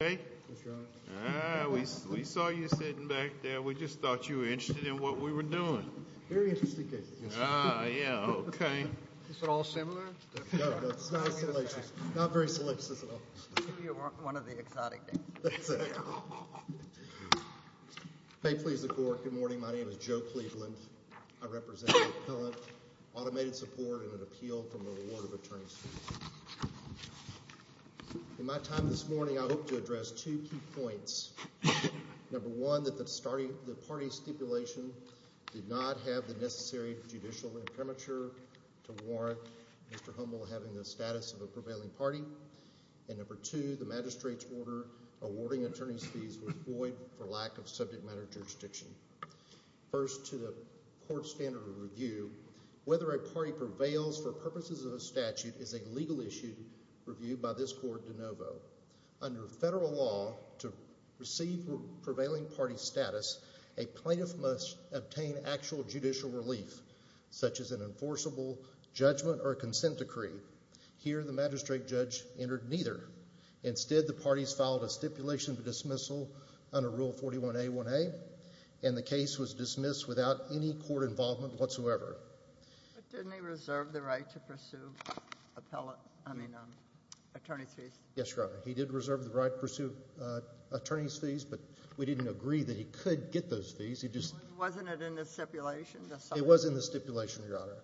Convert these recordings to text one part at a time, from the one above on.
We saw you sitting back there. We just thought you were interested in what we were doing. Very interesting case. Ah, yeah, okay. Is it all similar? No, it's not salacious. Not very salacious at all. You're one of the exotic names. That's right. May it please the Court, good morning. My name is Joe Cleveland. I represent an appellant, automated support, and an appeal from the Board of Attorneys. In my time this morning, I hope to address two key points. Number one, that the party stipulation did not have the necessary judicial infirmature to warrant Mr. Hummel having the status of a prevailing party. And number two, the magistrate's order awarding attorney's fees was void for lack of subject matter jurisdiction. First, to the Court's standard of review, whether a party prevails for purposes of a statute is a legal issue reviewed by this Court de novo. Under federal law, to receive prevailing party status, a plaintiff must obtain actual judicial relief, such as an enforceable judgment or a consent decree. Here, the magistrate judge entered neither. Instead, the parties filed a stipulation for dismissal under Rule 41A1A, and the case was dismissed without any court involvement whatsoever. But didn't he reserve the right to pursue attorney's fees? Yes, Your Honor. He did reserve the right to pursue attorney's fees, but we didn't agree that he could get those fees. Wasn't it in the stipulation? It was in the stipulation, Your Honor.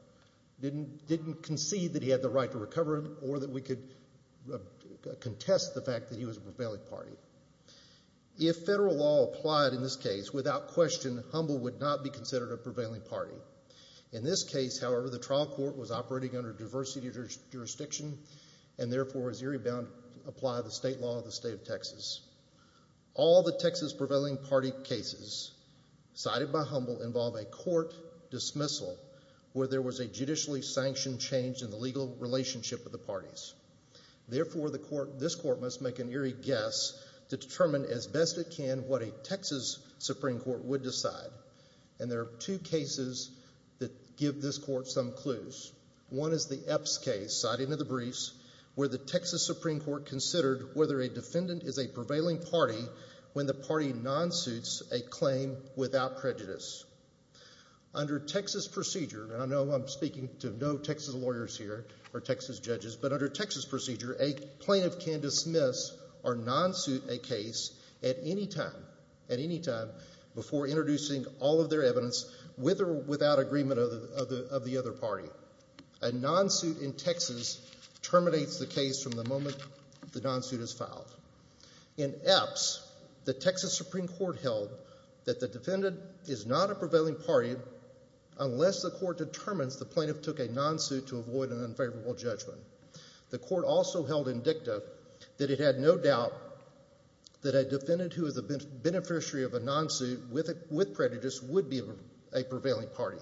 Didn't concede that he had the right to recover them, or that we could contest the fact that he was a prevailing party. If federal law applied in this case, without question, Hummel would not be considered a prevailing party. In this case, however, the trial court was operating under diversity jurisdiction, and therefore was eerie bound to apply the state law of the state of Texas. All the Texas prevailing party cases cited by Hummel involve a court dismissal where there was a judicially sanctioned change in the legal relationship of the parties. Therefore, this court must make an eerie guess to determine as best it can what a Texas Supreme Court would decide. And there are two cases that give this court some clues. One is the Epps case, cited in the briefs, where the Texas Supreme Court considered whether a defendant is a prevailing party when the party non-suits a claim without prejudice. Under Texas procedure, and I know I'm speaking to no Texas lawyers here, or Texas judges, but under Texas procedure, a plaintiff can dismiss or non-suit a case at any time before introducing all of their evidence with or without agreement of the other party. A non-suit in Texas terminates the case from the moment the non-suit is filed. In Epps, the Texas Supreme Court held that the defendant is not a prevailing party unless the court determines the plaintiff took a non-suit to avoid an unfavorable judgment. The court also held in dicta that it had no doubt that a defendant who is a beneficiary of a non-suit with prejudice would be a prevailing party.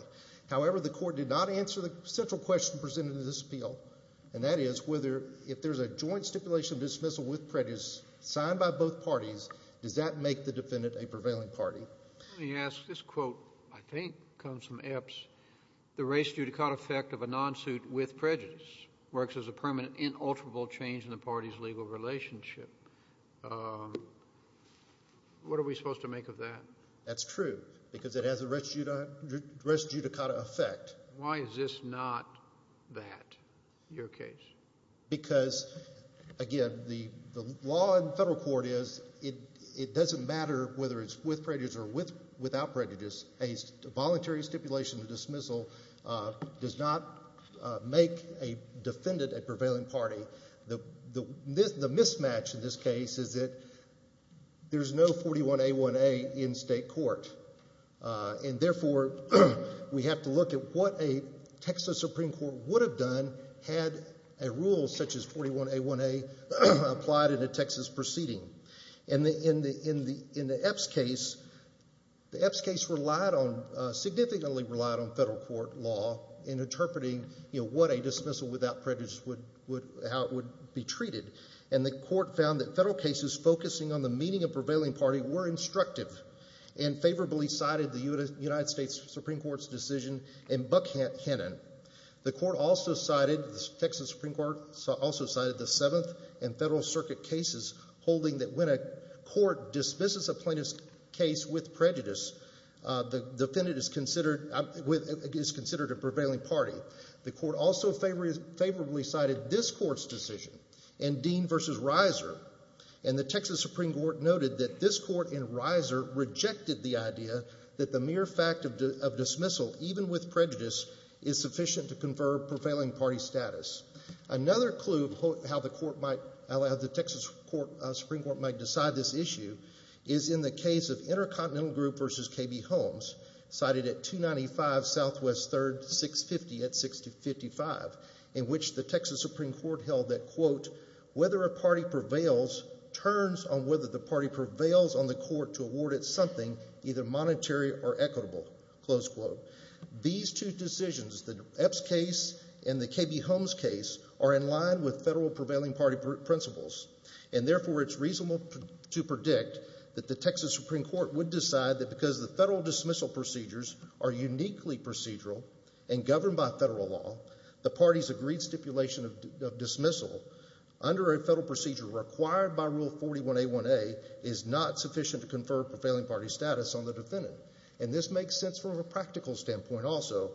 However, the court did not answer the central question presented in this appeal, and that is whether if there's a joint stipulation dismissal with prejudice signed by both parties, does that make the defendant a prevailing party? Let me ask, this quote I think comes from Epps, the res judicata effect of a non-suit with prejudice works as a permanent, inalterable change in the party's legal relationship. What are we supposed to make of that? That's true, because it has a res judicata effect. Why is this not that, your case? Because, again, the law in federal court is it doesn't matter whether it's with prejudice or without prejudice. A voluntary stipulation of dismissal does not make a defendant a prevailing party. The mismatch in this case is that there's no 41A1A in state court. Therefore, we have to look at what a Texas Supreme Court would have done had a rule such as 41A1A applied in a Texas proceeding. In the Epps case, the Epps case relied on, significantly relied on federal court law in interpreting what a dismissal without prejudice would, how it would be treated. And the court found that federal cases focusing on the meaning of prevailing party were instructive and favorably cited the United States Supreme Court's decision in Buckhannon. The court also cited, the Texas Supreme Court also cited the Seventh and Federal Circuit cases holding that when a court dismisses a plaintiff's case with prejudice, the defendant is considered a prevailing party. The court also favorably cited this court's decision in Dean v. Reiser. And the Texas Supreme Court noted that this court in Reiser rejected the idea that the mere fact of dismissal, even with prejudice, is sufficient to confer prevailing party status. Another clue of how the Texas Supreme Court might decide this issue is in the case of Intercontinental Group v. KB Holmes, cited at 295 Southwest 3rd, 650 at 655, in which the Texas Supreme Court held that, quote, whether a party prevails turns on whether the party prevails on the court to award it something either monetary or equitable, close quote. These two decisions, the Epps case and the KB Holmes case, are in line with federal prevailing party principles. And therefore, it's reasonable to predict that the Texas Supreme Court would decide that because the federal dismissal procedures are uniquely procedural and governed by federal law, the party's agreed stipulation of dismissal under a federal procedure required by Rule 41A1A is not sufficient to confer prevailing party status on the defendant. And this makes sense from a practical standpoint also.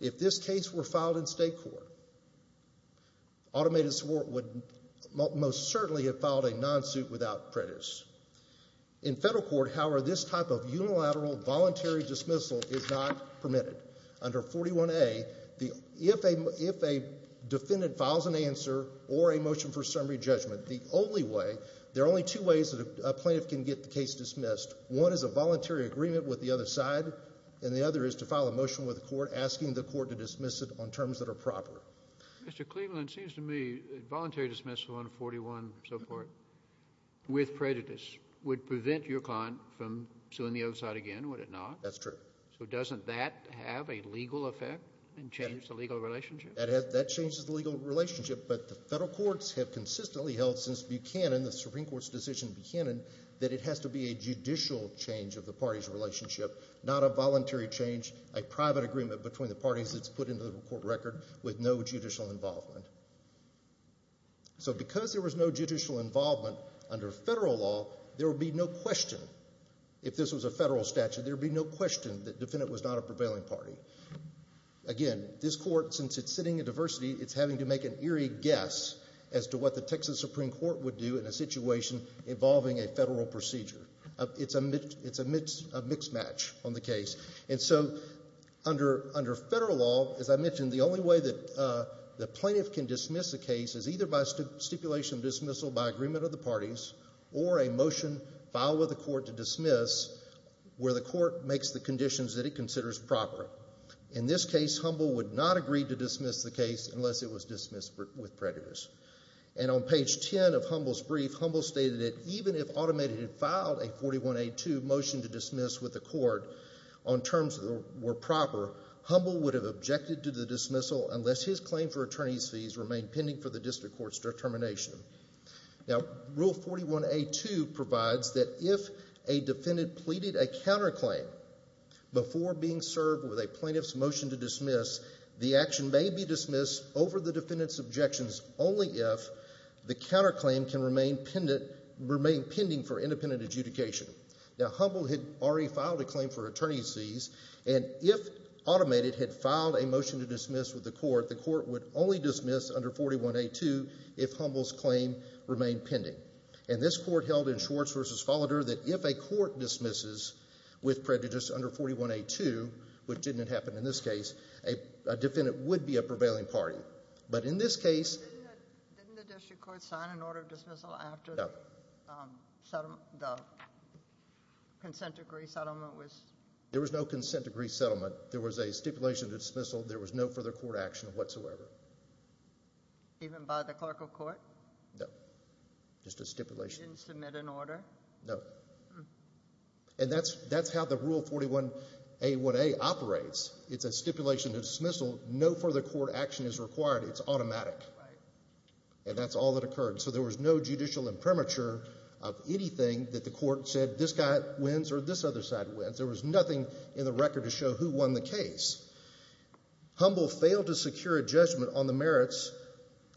If this case were filed in state court, automated support would most certainly have filed a non-suit without prejudice. In federal court, however, this type of unilateral voluntary dismissal is not permitted. Under 41A, if a defendant files an answer or a motion for summary judgment, the only way, there are only two ways that a plaintiff can get the case dismissed. One is a voluntary agreement with the other side, and the other is to file a motion with the court asking the court to dismiss it on terms that are proper. Mr. Cleveland, it seems to me voluntary dismissal under 41 and so forth with prejudice would prevent your client from suing the other side again, would it not? That's true. So doesn't that have a legal effect and change the legal relationship? That changes the legal relationship, but the federal courts have consistently held since Buchanan, the Supreme Court's decision in Buchanan, that it has to be a judicial change of the party's relationship, not a voluntary change, a private agreement between the parties that's put into the court record with no judicial involvement. So because there was no judicial involvement under federal law, there would be no question, if this was a federal statute, there would be no question that the defendant was not a prevailing party. Again, this court, since it's sitting in diversity, it's having to make an eerie guess as to what the Texas Supreme Court would do in a situation involving a federal procedure. It's a mix match on the case. And so under federal law, as I mentioned, the only way that the plaintiff can dismiss a case is either by stipulation of dismissal by agreement of the parties or a motion filed with the court to dismiss where the court makes the conditions that it considers proper. In this case, Humble would not agree to dismiss the case unless it was dismissed with prejudice. And on page 10 of Humble's brief, Humble stated that even if automated had filed a 41A2 motion to dismiss with the court on terms that were proper, Humble would have objected to the dismissal unless his claim for attorney's fees remained pending for the district court's determination. Now, Rule 41A2 provides that if a defendant pleaded a counterclaim before being served with a plaintiff's motion to dismiss, the action may be dismissed over the defendant's objections only if the counterclaim can remain pending for independent adjudication. Now, Humble had already filed a claim for attorney's fees, and if automated had filed a motion to dismiss with the court, the court would only dismiss under 41A2 if Humble's claim remained pending. And this court held in Schwartz v. Folliter that if a court dismisses with prejudice under 41A2, which didn't happen in this case, a defendant would be a prevailing party. But in this case— Didn't the district court sign an order of dismissal after the consent decree settlement was— There was no consent decree settlement. There was a stipulation to dismissal. There was no further court action whatsoever. Even by the clerk of court? No. Just a stipulation. Didn't submit an order? No. And that's how the Rule 41A1A operates. It's a stipulation to dismissal. No further court action is required. It's automatic. And that's all that occurred. So there was no judicial imprimatur of anything that the court said, this guy wins or this other side wins. There was nothing in the record to show who won the case. Humble failed to secure a judgment on the merits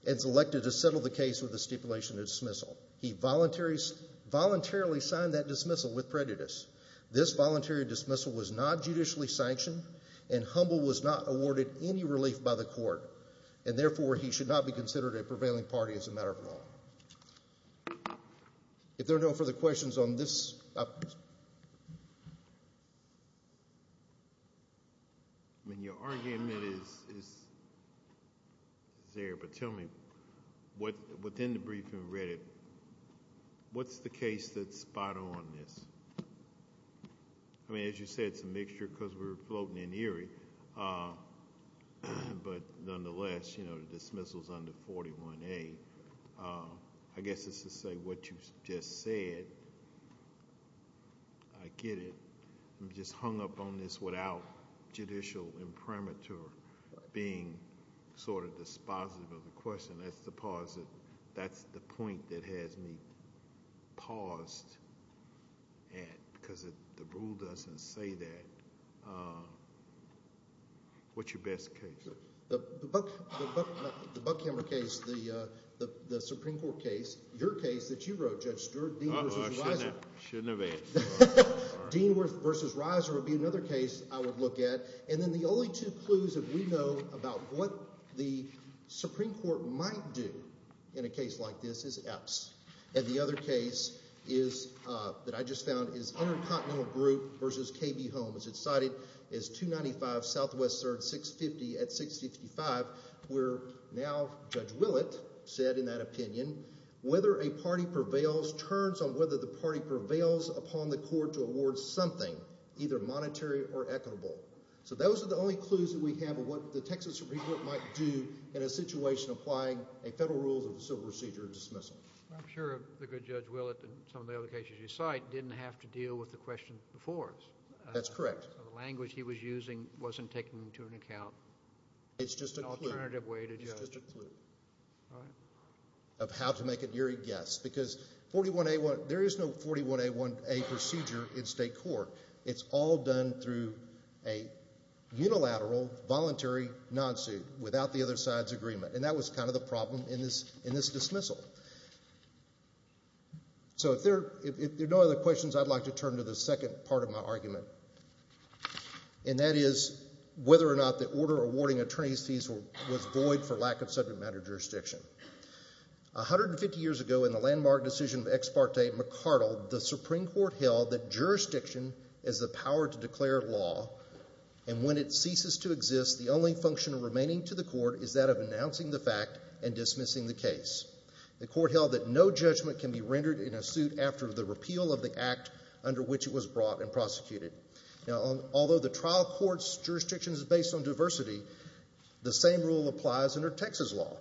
and is elected to settle the case with a stipulation to dismissal. He voluntarily signed that dismissal with prejudice. This voluntary dismissal was not judicially sanctioned, and Humble was not awarded any relief by the court, and therefore he should not be considered a prevailing party as a matter of law. If there are no further questions on this. Your argument is there, but tell me, within the briefing we read, what's the case that's spot on in this? I mean, as you said, it's a mixture because we're floating in Erie, but nonetheless, the dismissal is under 41A. I guess it's to say what you just said, I get it. I'm just hung up on this without judicial imprimatur being sort of dispositive of the question. That's the point that has me paused, because the rule doesn't say that. What's your best case? The Buckhammer case, the Supreme Court case, your case that you wrote, Judge Stewart, Dean v. Reiser. Uh-oh, I shouldn't have asked. Dean v. Reiser would be another case I would look at. Then the only two clues that we know about what the Supreme Court might do in a case like this is Epps. The other case that I just found is Intercontinental Group v. KB Holmes. It's cited as 295 Southwestern, 650 at 655, where now Judge Willett said in that opinion, whether a party prevails turns on whether the party prevails upon the court to award something, either monetary or equitable. So those are the only clues that we have of what the Texas Supreme Court might do in a situation applying a federal rule of civil procedure dismissal. I'm sure the good Judge Willett and some of the other cases you cite didn't have to deal with the question before us. That's correct. The language he was using wasn't taken into account. It's just a clue. An alternative way to judge. It's just a clue. All right. Of how to make an eerie guess because 41A1, there is no 41A1A procedure in state court. It's all done through a unilateral voluntary non-suit without the other side's agreement, and that was kind of the problem in this dismissal. So if there are no other questions, I'd like to turn to the second part of my argument, and that is whether or not the order awarding attorney's fees was void for lack of subject matter jurisdiction. 150 years ago in the landmark decision of Ex parte McCardell, the Supreme Court held that jurisdiction is the power to declare law, and when it ceases to exist, the only function remaining to the court is that of announcing the fact and dismissing the case. The court held that no judgment can be rendered in a suit after the repeal of the act under which it was brought and prosecuted. Now, although the trial court's jurisdiction is based on diversity, the same rule applies under Texas law.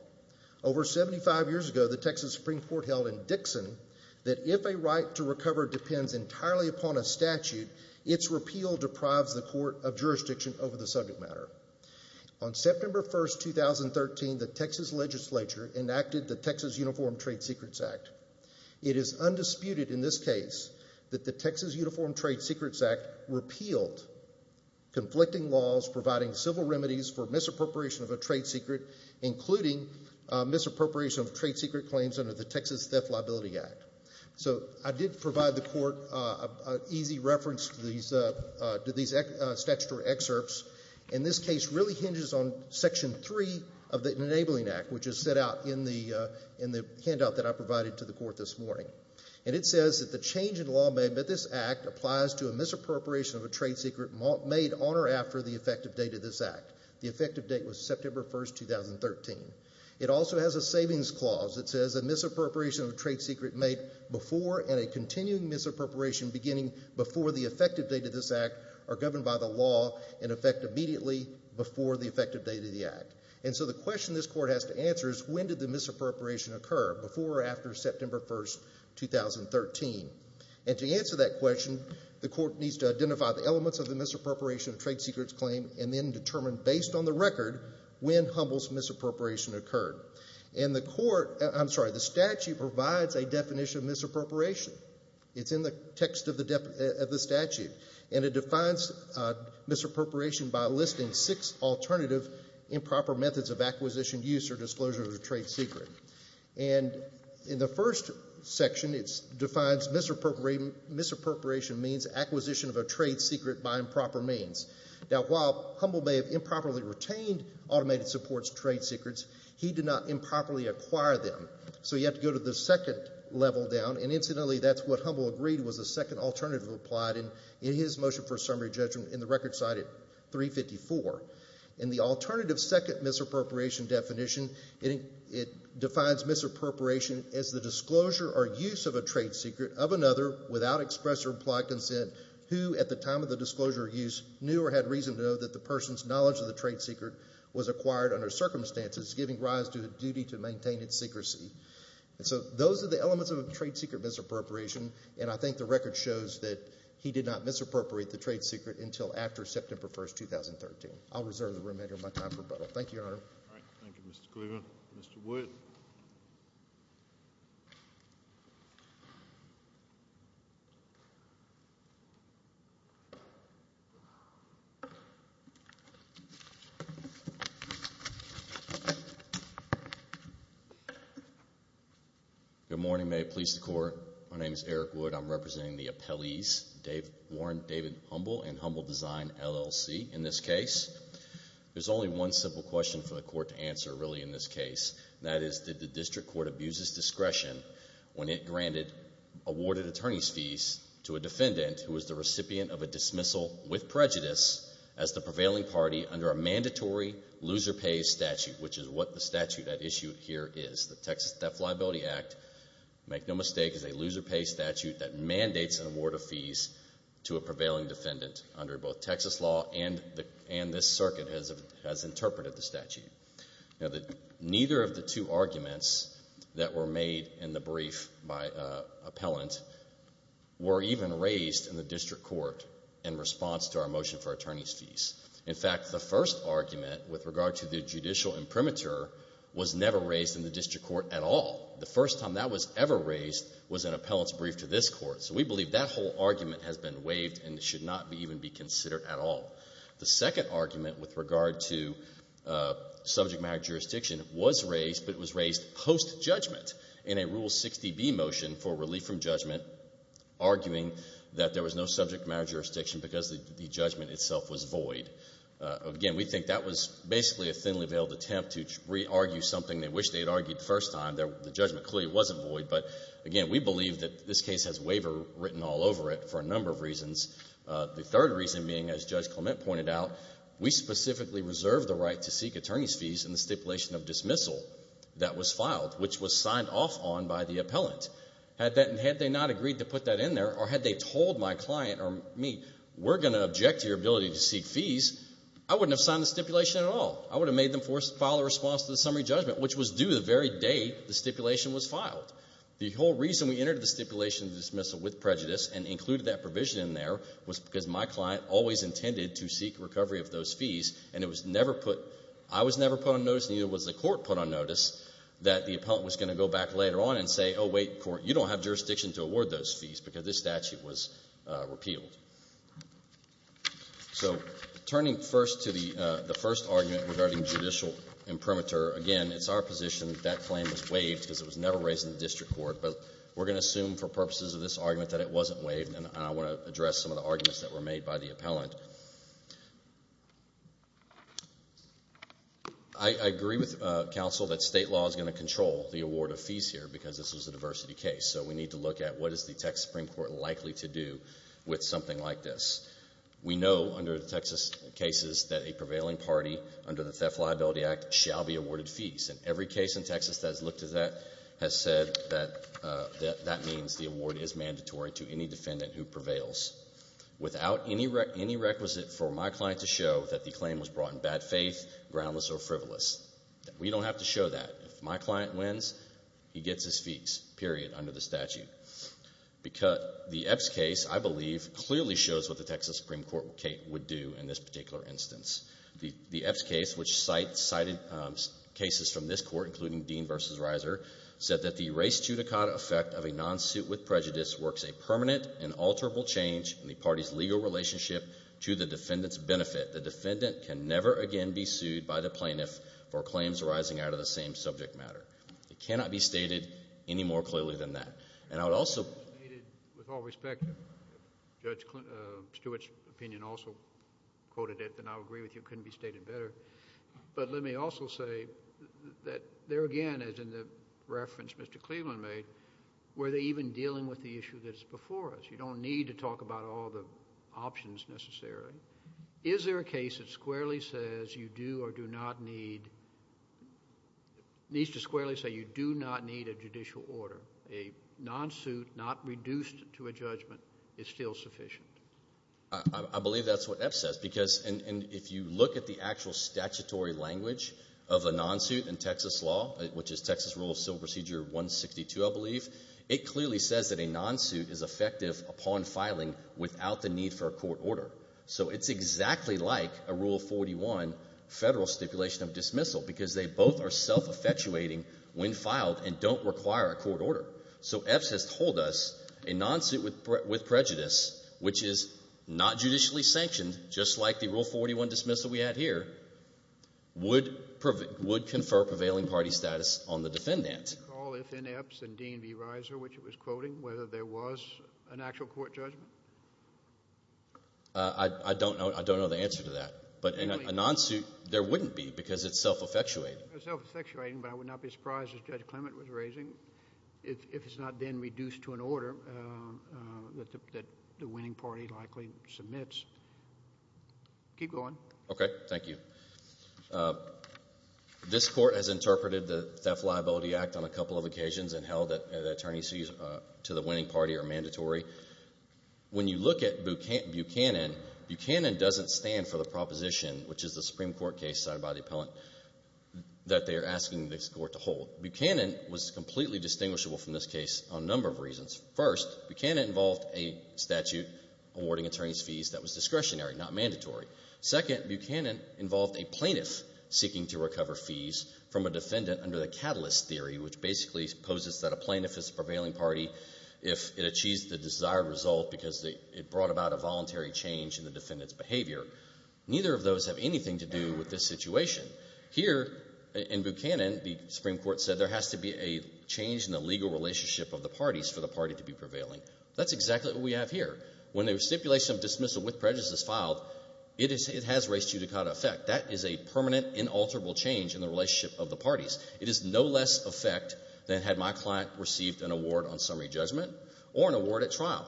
Over 75 years ago, the Texas Supreme Court held in Dixon that if a right to recover depends entirely upon a statute, its repeal deprives the court of jurisdiction over the subject matter. On September 1, 2013, the Texas legislature enacted the Texas Uniform Trade Secrets Act. It is undisputed in this case that the Texas Uniform Trade Secrets Act repealed conflicting laws providing civil remedies for misappropriation of a trade secret, including misappropriation of trade secret claims under the Texas Theft Liability Act. So I did provide the court an easy reference to these statutory excerpts, and this case really hinges on Section 3 of the Enabling Act, which is set out in the handout that I provided to the court this morning. And it says that the change in law made by this act applies to a misappropriation of a trade secret made on or after the effective date of this act. The effective date was September 1, 2013. It also has a savings clause that says a misappropriation of a trade secret made before and a continuing misappropriation beginning before the effective date of this act are governed by the law and effect immediately before the effective date of the act. And so the question this court has to answer is, when did the misappropriation occur, before or after September 1, 2013? And to answer that question, the court needs to identify the elements of the misappropriation of trade secrets claim and then determine, based on the record, when Humble's misappropriation occurred. And the statute provides a definition of misappropriation. It's in the text of the statute, and it defines misappropriation by listing six alternative improper methods of acquisition, use, or disclosure of a trade secret. And in the first section, it defines misappropriation means acquisition of a trade secret by improper means. Now, while Humble may have improperly retained automated supports trade secrets, he did not improperly acquire them. So you have to go to the second level down, and incidentally that's what Humble agreed was the second alternative applied in his motion for summary judgment in the record cited 354. In the alternative second misappropriation definition, it defines misappropriation as the disclosure or use of a trade secret of another without express or implied consent who at the time of the disclosure or use knew or had reason to know that the person's knowledge of the trade secret was acquired under circumstances, giving rise to a duty to maintain its secrecy. And so those are the elements of a trade secret misappropriation, and I think the record shows that he did not misappropriate the trade secret until after September 1, 2013. I'll reserve the remainder of my time for rebuttal. Thank you, Your Honor. Thank you, Mr. Cleveland. Mr. Wood. Good morning. Your Honor, may it please the Court, my name is Eric Wood. I'm representing the appellees, Warren David Humble and Humble Design, LLC, in this case. There's only one simple question for the Court to answer really in this case, and that is did the district court abuse its discretion when it granted awarded attorney's fees to a defendant who was the recipient of a dismissal with prejudice as the prevailing party under a mandatory loser pays statute, which is what the statute at issue here is, the Texas Theft Liability Act, make no mistake, is a loser pays statute that mandates an award of fees to a prevailing defendant under both Texas law and this circuit has interpreted the statute. Neither of the two arguments that were made in the brief by appellant were even raised in the district court in response to our motion for attorney's fees. In fact, the first argument with regard to the judicial imprimatur was never raised in the district court at all. The first time that was ever raised was in appellant's brief to this court, so we believe that whole argument has been waived and should not even be considered at all. The second argument with regard to subject matter jurisdiction was raised, but it was raised post-judgment in a Rule 60B motion for relief from judgment arguing that there was no subject matter jurisdiction because the judgment itself was void. Again, we think that was basically a thinly veiled attempt to re-argue something they wish they had argued the first time. The judgment clearly wasn't void, but again, we believe that this case has waiver written all over it for a number of reasons. The third reason being, as Judge Clement pointed out, we specifically reserve the right to seek attorney's fees in the stipulation of dismissal that was filed, which was signed off on by the appellant. Had they not agreed to put that in there, or had they told my client or me, we're going to object to your ability to seek fees, I wouldn't have signed the stipulation at all. I would have made them file a response to the summary judgment, which was due the very day the stipulation was filed. The whole reason we entered the stipulation of dismissal with prejudice and included that provision in there was because my client always intended to seek recovery of those fees, and I was never put on notice, and neither was the court put on notice that the appellant was going to go back later on and say, oh, wait, court, you don't have jurisdiction to award those fees because this statute was repealed. So turning first to the first argument regarding judicial imprimatur, again, it's our position that that claim was waived because it was never raised in the district court, but we're going to assume for purposes of this argument that it wasn't waived, and I want to address some of the arguments that were made by the appellant. I agree with counsel that state law is going to control the award of fees here because this is a diversity case, so we need to look at what is the Texas Supreme Court likely to do with something like this. We know under the Texas cases that a prevailing party under the Theft and Liability Act shall be awarded fees, and every case in Texas that has looked at that has said that that means the award is mandatory to any defendant who prevails. Without any requisite for my client to show that the claim was brought in bad faith, groundless, or frivolous, we don't have to show that. If my client wins, he gets his fees, period, under the statute. The Epps case, I believe, clearly shows what the Texas Supreme Court would do in this particular instance. The Epps case, which cited cases from this court, including Dean v. Reiser, said that the res judicata effect of a non-suit with prejudice works a permanent and alterable change in the party's legal relationship to the defendant's benefit. The defendant can never again be sued by the plaintiff for claims arising out of the same subject matter. It cannot be stated any more clearly than that. With all respect, Judge Stewart's opinion also quoted it, and I'll agree with you, it couldn't be stated better. But let me also say that there again, as in the reference Mr. Cleveland made, were they even dealing with the issue that's before us? You don't need to talk about all the options necessary. Is there a case that squarely says you do or do not need a judicial order? A non-suit not reduced to a judgment is still sufficient? I believe that's what Epps says. If you look at the actual statutory language of a non-suit in Texas law, which is Texas Rule of Civil Procedure 162, I believe, it clearly says that a non-suit is effective upon filing without the need for a court order. So it's exactly like a Rule 41 federal stipulation of dismissal because they both are self-effectuating when filed and don't require a court order. So Epps has told us a non-suit with prejudice, which is not judicially sanctioned just like the Rule 41 dismissal we had here, would confer prevailing party status on the defendant. Do you recall if in Epps and Dean v. Reiser, which it was quoting, whether there was an actual court judgment? I don't know the answer to that. But in a non-suit, there wouldn't be because it's self-effectuating. It's self-effectuating, but I would not be surprised, as Judge Clement was raising, if it's not then reduced to an order that the winning party likely submits. Keep going. Okay. Thank you. This court has interpreted the Theft and Liability Act on a couple of occasions and held that attorneys who use it to the winning party are mandatory. When you look at Buchanan, Buchanan doesn't stand for the proposition, which is the Supreme Court case cited by the appellant, that they are asking this court to hold. Buchanan was completely distinguishable from this case on a number of reasons. First, Buchanan involved a statute awarding attorney's fees that was discretionary, not mandatory. Second, Buchanan involved a plaintiff seeking to recover fees from a defendant under the catalyst theory, which basically poses that a plaintiff is a prevailing party if it achieves the desired result because it brought about a voluntary change in the defendant's behavior. Neither of those have anything to do with this situation. Here, in Buchanan, the Supreme Court said there has to be a change in the legal relationship of the parties for the party to be prevailing. That's exactly what we have here. When the stipulation of dismissal with prejudice is filed, it has res judicata effect. That is a permanent, inalterable change in the relationship of the parties. It is no less effect than had my client received an award on summary judgment or an award at trial.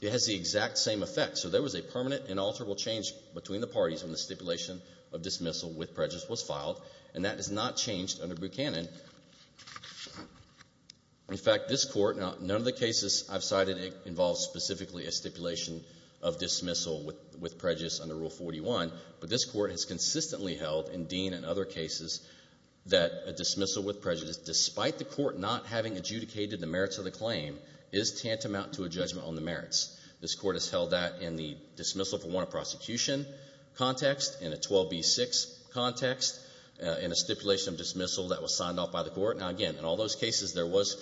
It has the exact same effect. So there was a permanent, inalterable change between the parties when the stipulation of dismissal with prejudice was filed, and that has not changed under Buchanan. In fact, this Court, none of the cases I've cited involves specifically a stipulation of dismissal with prejudice under Rule 41, but this Court has consistently held in Dean and other cases that a dismissal with prejudice, despite the Court not having adjudicated the merits of the claim, is tantamount to a judgment on the merits. This Court has held that in the dismissal for warrant of prosecution context, in a 12b-6 context, in a stipulation of dismissal that was signed off by the Court. Now, again, in all those cases there was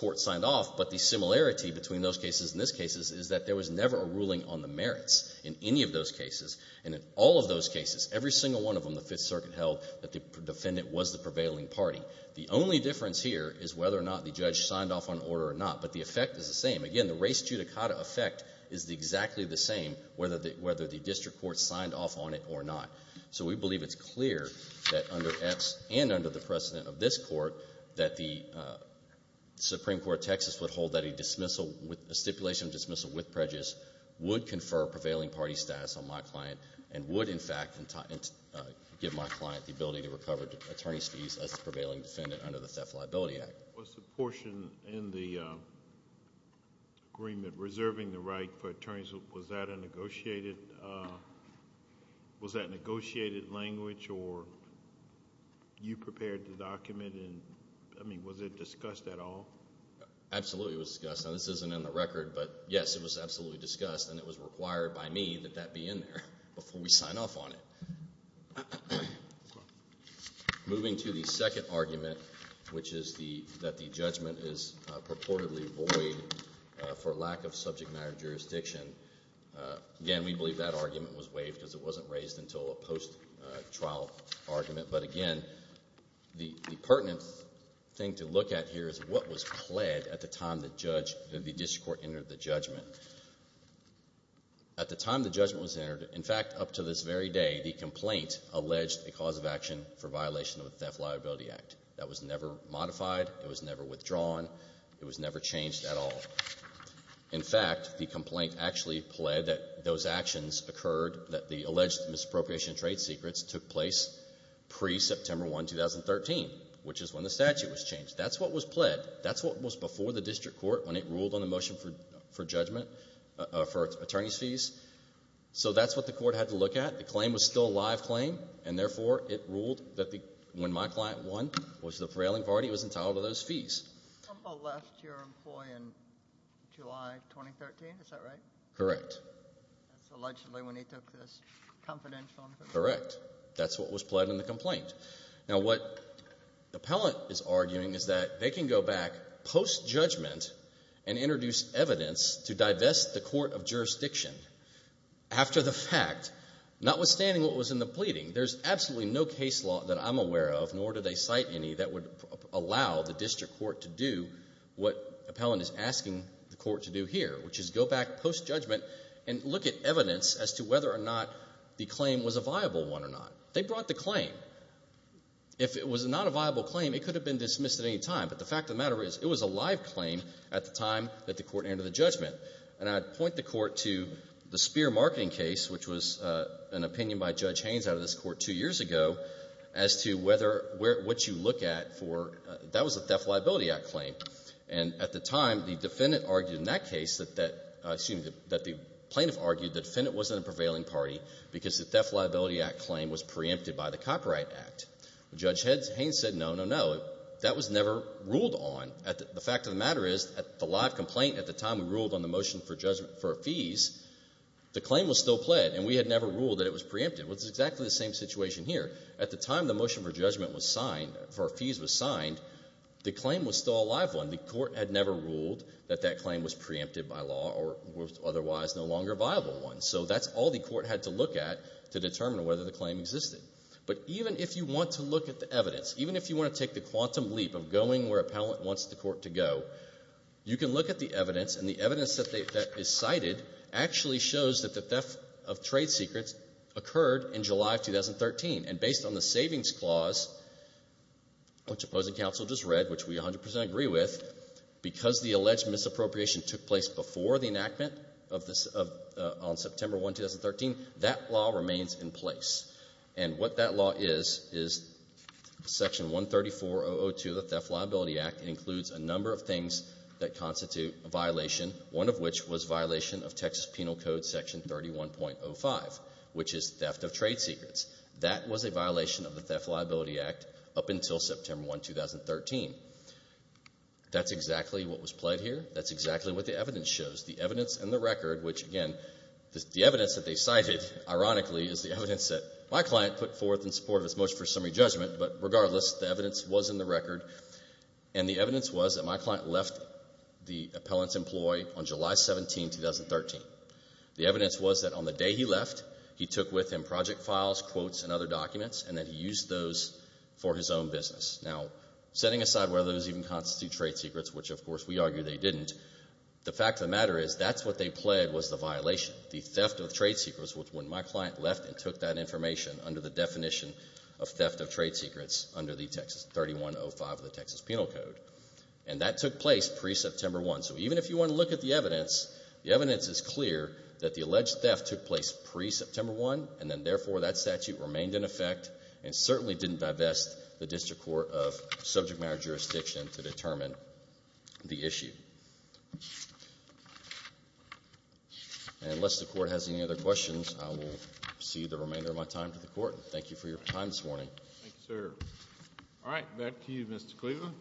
Court signed off, but the similarity between those cases and this case is that there was never a ruling on the merits in any of those cases. And in all of those cases, every single one of them, the Fifth Circuit held that the defendant was the prevailing party. The only difference here is whether or not the judge signed off on order or not, but the effect is the same. Again, the res judicata effect is exactly the same, whether the district court signed off on it or not. So we believe it's clear that under X and under the precedent of this Court that the Supreme Court of Texas would hold that a stipulation of dismissal with prejudice would confer prevailing party status on my client and would, in fact, give my client the ability to recover attorney's fees as the prevailing defendant under the Theft and Liability Act. Was the portion in the agreement reserving the right for attorneys, was that a negotiated language or you prepared the document and, I mean, was it discussed at all? Absolutely it was discussed. Now, this isn't in the record, but, yes, it was absolutely discussed and it was required by me that that be in there before we sign off on it. Moving to the second argument, which is that the judgment is purportedly void for lack of subject matter jurisdiction. Again, we believe that argument was waived because it wasn't raised until a post-trial argument. But, again, the pertinent thing to look at here is what was pled at the time the district court entered the judgment. At the time the judgment was entered, in fact, up to this very day, the complaint alleged a cause of action for violation of the Theft and Liability Act. That was never modified. It was never withdrawn. It was never changed at all. In fact, the complaint actually pled that those actions occurred, that the alleged misappropriation of trade secrets took place pre-September 1, 2013, which is when the statute was changed. That's what was pled. That's what was before the district court when it ruled on the motion for judgment, for attorneys' fees. So that's what the court had to look at. The claim was still a live claim, and, therefore, it ruled that when my client won, which the prevailing party, was entitled to those fees. Trumbo left your employee in July 2013. Is that right? Correct. That's allegedly when he took this confidential. Correct. That's what was pled in the complaint. Now, what the appellant is arguing is that they can go back post-judgment and introduce evidence to divest the court of jurisdiction after the fact, notwithstanding what was in the pleading. There's absolutely no case law that I'm aware of, nor do they cite any, that would allow the district court to do what the appellant is asking the court to do here, which is go back post-judgment and look at evidence as to whether or not the claim was a viable one or not. They brought the claim. If it was not a viable claim, it could have been dismissed at any time, but the fact of the matter is it was a live claim at the time that the court entered the judgment. And I'd point the court to the Speer marketing case, which was an opinion by Judge Haynes out of this court two years ago, as to whether what you look at for that was a Theft and Liability Act claim. And at the time, the defendant argued in that case that the plaintiff argued the defendant wasn't a prevailing party because the Theft and Liability Act claim was preempted by the Copyright Act. Judge Haynes said no, no, no. That was never ruled on. The fact of the matter is the live complaint at the time we ruled on the motion for a fees, the claim was still pled, and we had never ruled that it was preempted. It was exactly the same situation here. At the time the motion for a fees was signed, the claim was still a live one. The court had never ruled that that claim was preempted by law or was otherwise no longer a viable one. So that's all the court had to look at to determine whether the claim existed. But even if you want to look at the evidence, even if you want to take the quantum leap of going where appellant wants the court to go, you can look at the evidence, and the evidence that is cited actually shows that the theft of trade secrets occurred in July of 2013. And based on the Savings Clause, which opposing counsel just read, which we 100% agree with, because the alleged misappropriation took place before the enactment on September 1, 2013, that law remains in place. And what that law is is Section 134.002 of the Theft and Liability Act includes a number of things that constitute a violation, one of which was violation of Texas Penal Code Section 31.05, which is theft of trade secrets. That was a violation of the Theft and Liability Act up until September 1, 2013. That's exactly what was pled here. That's exactly what the evidence shows. The evidence and the record, which, again, the evidence that they cited, ironically, is the evidence that my client put forth in support of his motion for summary judgment. But regardless, the evidence was in the record, and the evidence was that my client left the appellant's employ on July 17, 2013. The evidence was that on the day he left, he took with him project files, quotes, and other documents, and that he used those for his own business. Now, setting aside whether those even constitute trade secrets, which, of course, we argue they didn't, the fact of the matter is that's what they pled was the violation, the theft of trade secrets, which when my client left and took that information under the definition of theft of trade secrets under the Texas 3105 of the Texas Penal Code, and that took place pre-September 1. So even if you want to look at the evidence, the evidence is clear that the alleged theft took place pre-September 1, and then, therefore, that statute remained in effect and certainly didn't divest the District Court of subject matter jurisdiction to determine the issue. And unless the Court has any other questions, I will cede the remainder of my time to the Court. Thank you for your time this morning. Thank you, sir. All right, back to you, Mr. Cleveland.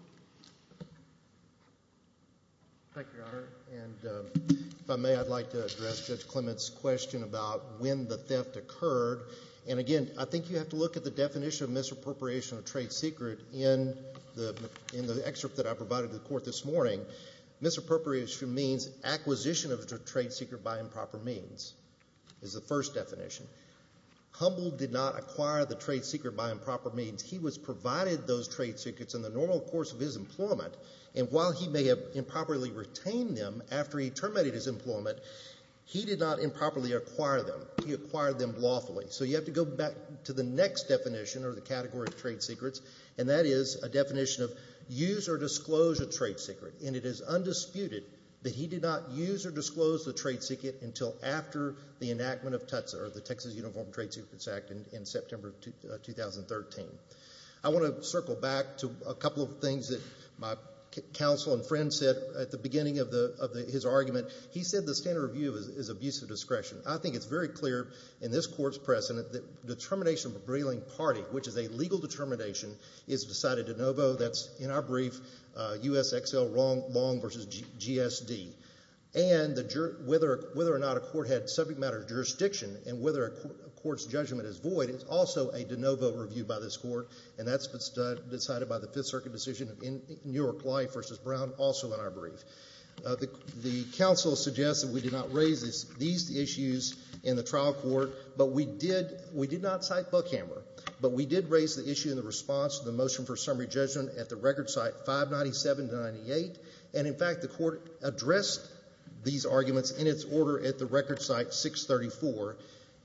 Thank you, Your Honor. And if I may, I'd like to address Judge Clement's question about when the theft occurred. And, again, I think you have to look at the definition of misappropriation of trade secret in the excerpt that I provided to the Court this morning. Misappropriation means acquisition of a trade secret by improper means is the first definition. Humboldt did not acquire the trade secret by improper means. He was provided those trade secrets in the normal course of his employment, and while he may have improperly retained them after he terminated his employment, he did not improperly acquire them. He acquired them lawfully. So you have to go back to the next definition or the category of trade secrets, and that is a definition of use or disclose a trade secret. And it is undisputed that he did not use or disclose the trade secret until after the enactment of TUTSA or the Texas Uniform Trade Secrets Act in September of 2013. I want to circle back to a couple of things that my counsel and friend said at the beginning of his argument. He said the standard of view is abuse of discretion. I think it's very clear in this Court's precedent that determination of a brailing party, which is a legal determination, is decided de novo. That's, in our brief, U.S. XL Long v. GSD. And whether or not a court had subject matter jurisdiction and whether a court's judgment is void is also a de novo review by this Court, and that's decided by the Fifth Circuit decision in Newark Life v. Brown, also in our brief. The counsel suggests that we did not raise these issues in the trial court, but we did not cite Buckhammer, but we did raise the issue in the response to the motion for summary judgment at the record site 597 to 98, and, in fact, the Court addressed these arguments in its order at the record site 634.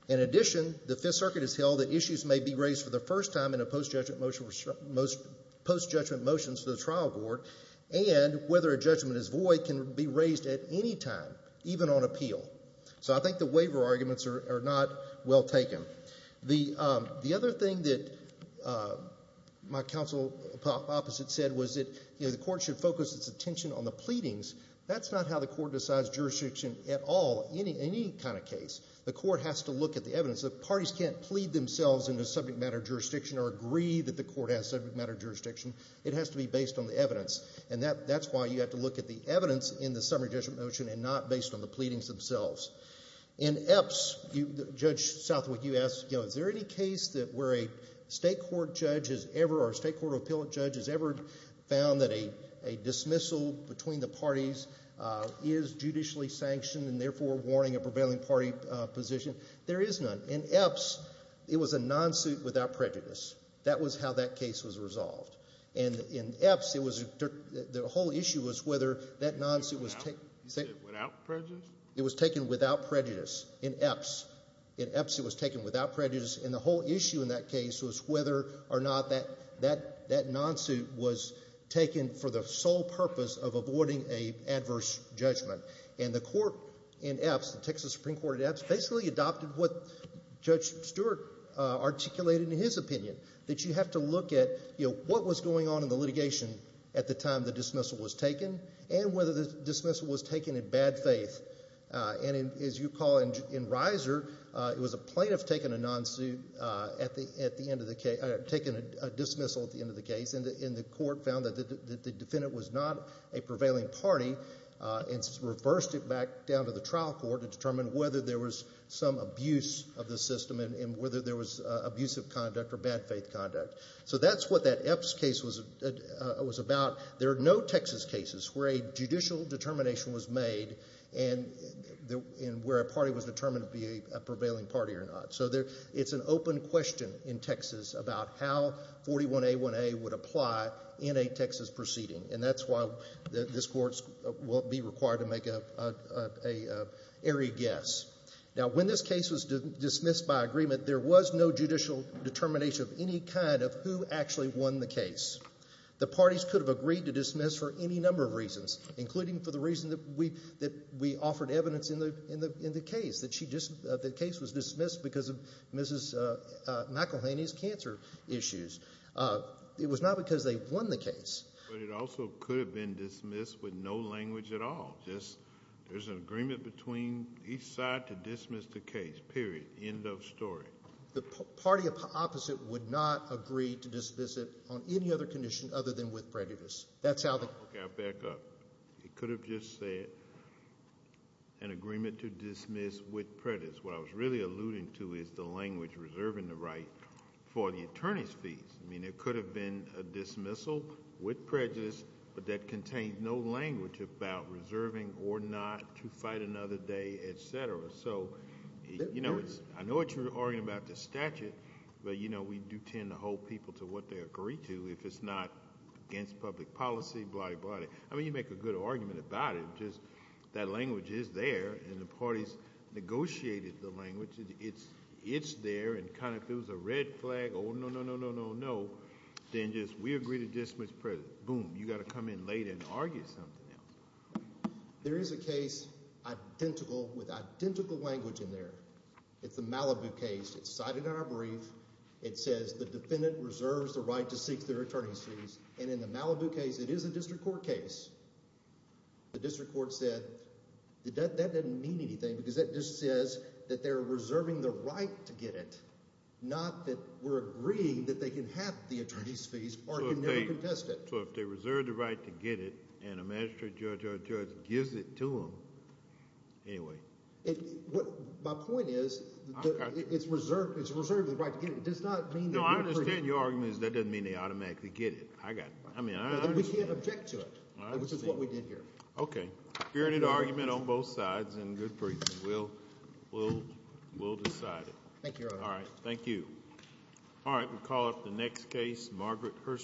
In addition, the Fifth Circuit has held that issues may be raised for the first time in a post-judgment motion for the trial court and whether a judgment is void can be raised at any time, even on appeal. So I think the waiver arguments are not well taken. The other thing that my counsel opposite said was that the Court should focus its attention on the pleadings. That's not how the Court decides jurisdiction at all in any kind of case. The Court has to look at the evidence. The parties can't plead themselves into subject matter jurisdiction or agree that the Court has subject matter jurisdiction. It has to be based on the evidence, and that's why you have to look at the evidence in the summary judgment motion and not based on the pleadings themselves. In Epps, Judge Southwick, you asked, you know, is there any case where a state court judge has ever or a state court of appeal judge has ever found that a dismissal between the parties is judicially sanctioned and, therefore, warning a prevailing party position? There is none. In Epps, it was a non-suit without prejudice. That was how that case was resolved. And in Epps, the whole issue was whether that non-suit was taken. You said without prejudice? It was taken without prejudice in Epps. In Epps, it was taken without prejudice, and the whole issue in that case was whether or not that non-suit was taken for the sole purpose of avoiding an adverse judgment. And the Court in Epps, the Texas Supreme Court in Epps, basically adopted what Judge Stewart articulated in his opinion, that you have to look at, you know, what was going on in the litigation at the time the dismissal was taken and whether the dismissal was taken in bad faith. And as you recall in Riser, it was a plaintiff taking a non-suit at the end of the case, taking a dismissal at the end of the case, and the Court found that the defendant was not a prevailing party and reversed it back down to the trial court to determine whether there was some abuse of the system and whether there was abusive conduct or bad faith conduct. So that's what that Epps case was about. There are no Texas cases where a judicial determination was made and where a party was determined to be a prevailing party or not. So it's an open question in Texas about how 41A1A would apply in a Texas proceeding, and that's why this Court won't be required to make an airy guess. Now, when this case was dismissed by agreement, there was no judicial determination of any kind of who actually won the case. The parties could have agreed to dismiss for any number of reasons, including for the reason that we offered evidence in the case, that the case was dismissed because of Mrs. McElhaney's cancer issues. It was not because they won the case. But it also could have been dismissed with no language at all, just there's an agreement between each side to dismiss the case, period, end of story. The party opposite would not agree to dismiss it on any other condition other than with prejudice. Okay, I'll back up. It could have just said an agreement to dismiss with prejudice. What I was really alluding to is the language reserving the right for the attorney's fees. I mean, it could have been a dismissal with prejudice, but that contained no language about reserving or not to fight another day, et cetera. So I know what you're arguing about the statute, but we do tend to hold people to what they agree to if it's not against public policy, blah, blah, blah. I mean, you make a good argument about it. Just that language is there, and the parties negotiated the language. It's there, and kind of if it was a red flag, oh, no, no, no, no, no, no, then just we agree to dismiss prejudice. Boom, you got to come in later and argue something else. There is a case identical with identical language in there. It's the Malibu case. It's cited in our brief. It says the defendant reserves the right to seek their attorney's fees, and in the Malibu case, it is a district court case. The district court said that that doesn't mean anything because that just says that they're reserving the right to get it, not that we're agreeing that they can have the attorney's fees or can never contest it. So if they reserve the right to get it and a magistrate judge or a judge gives it to them, anyway. My point is it's reserved the right to get it. It does not mean that you're free. No, I understand your argument is that doesn't mean they automatically get it. I mean, I understand. We can't object to it, which is what we did here. Okay, hearing an argument on both sides in good faith, we'll decide it. Thank you, Your Honor. All right, thank you. All right, we'll call up the next case, Margaret Hurst.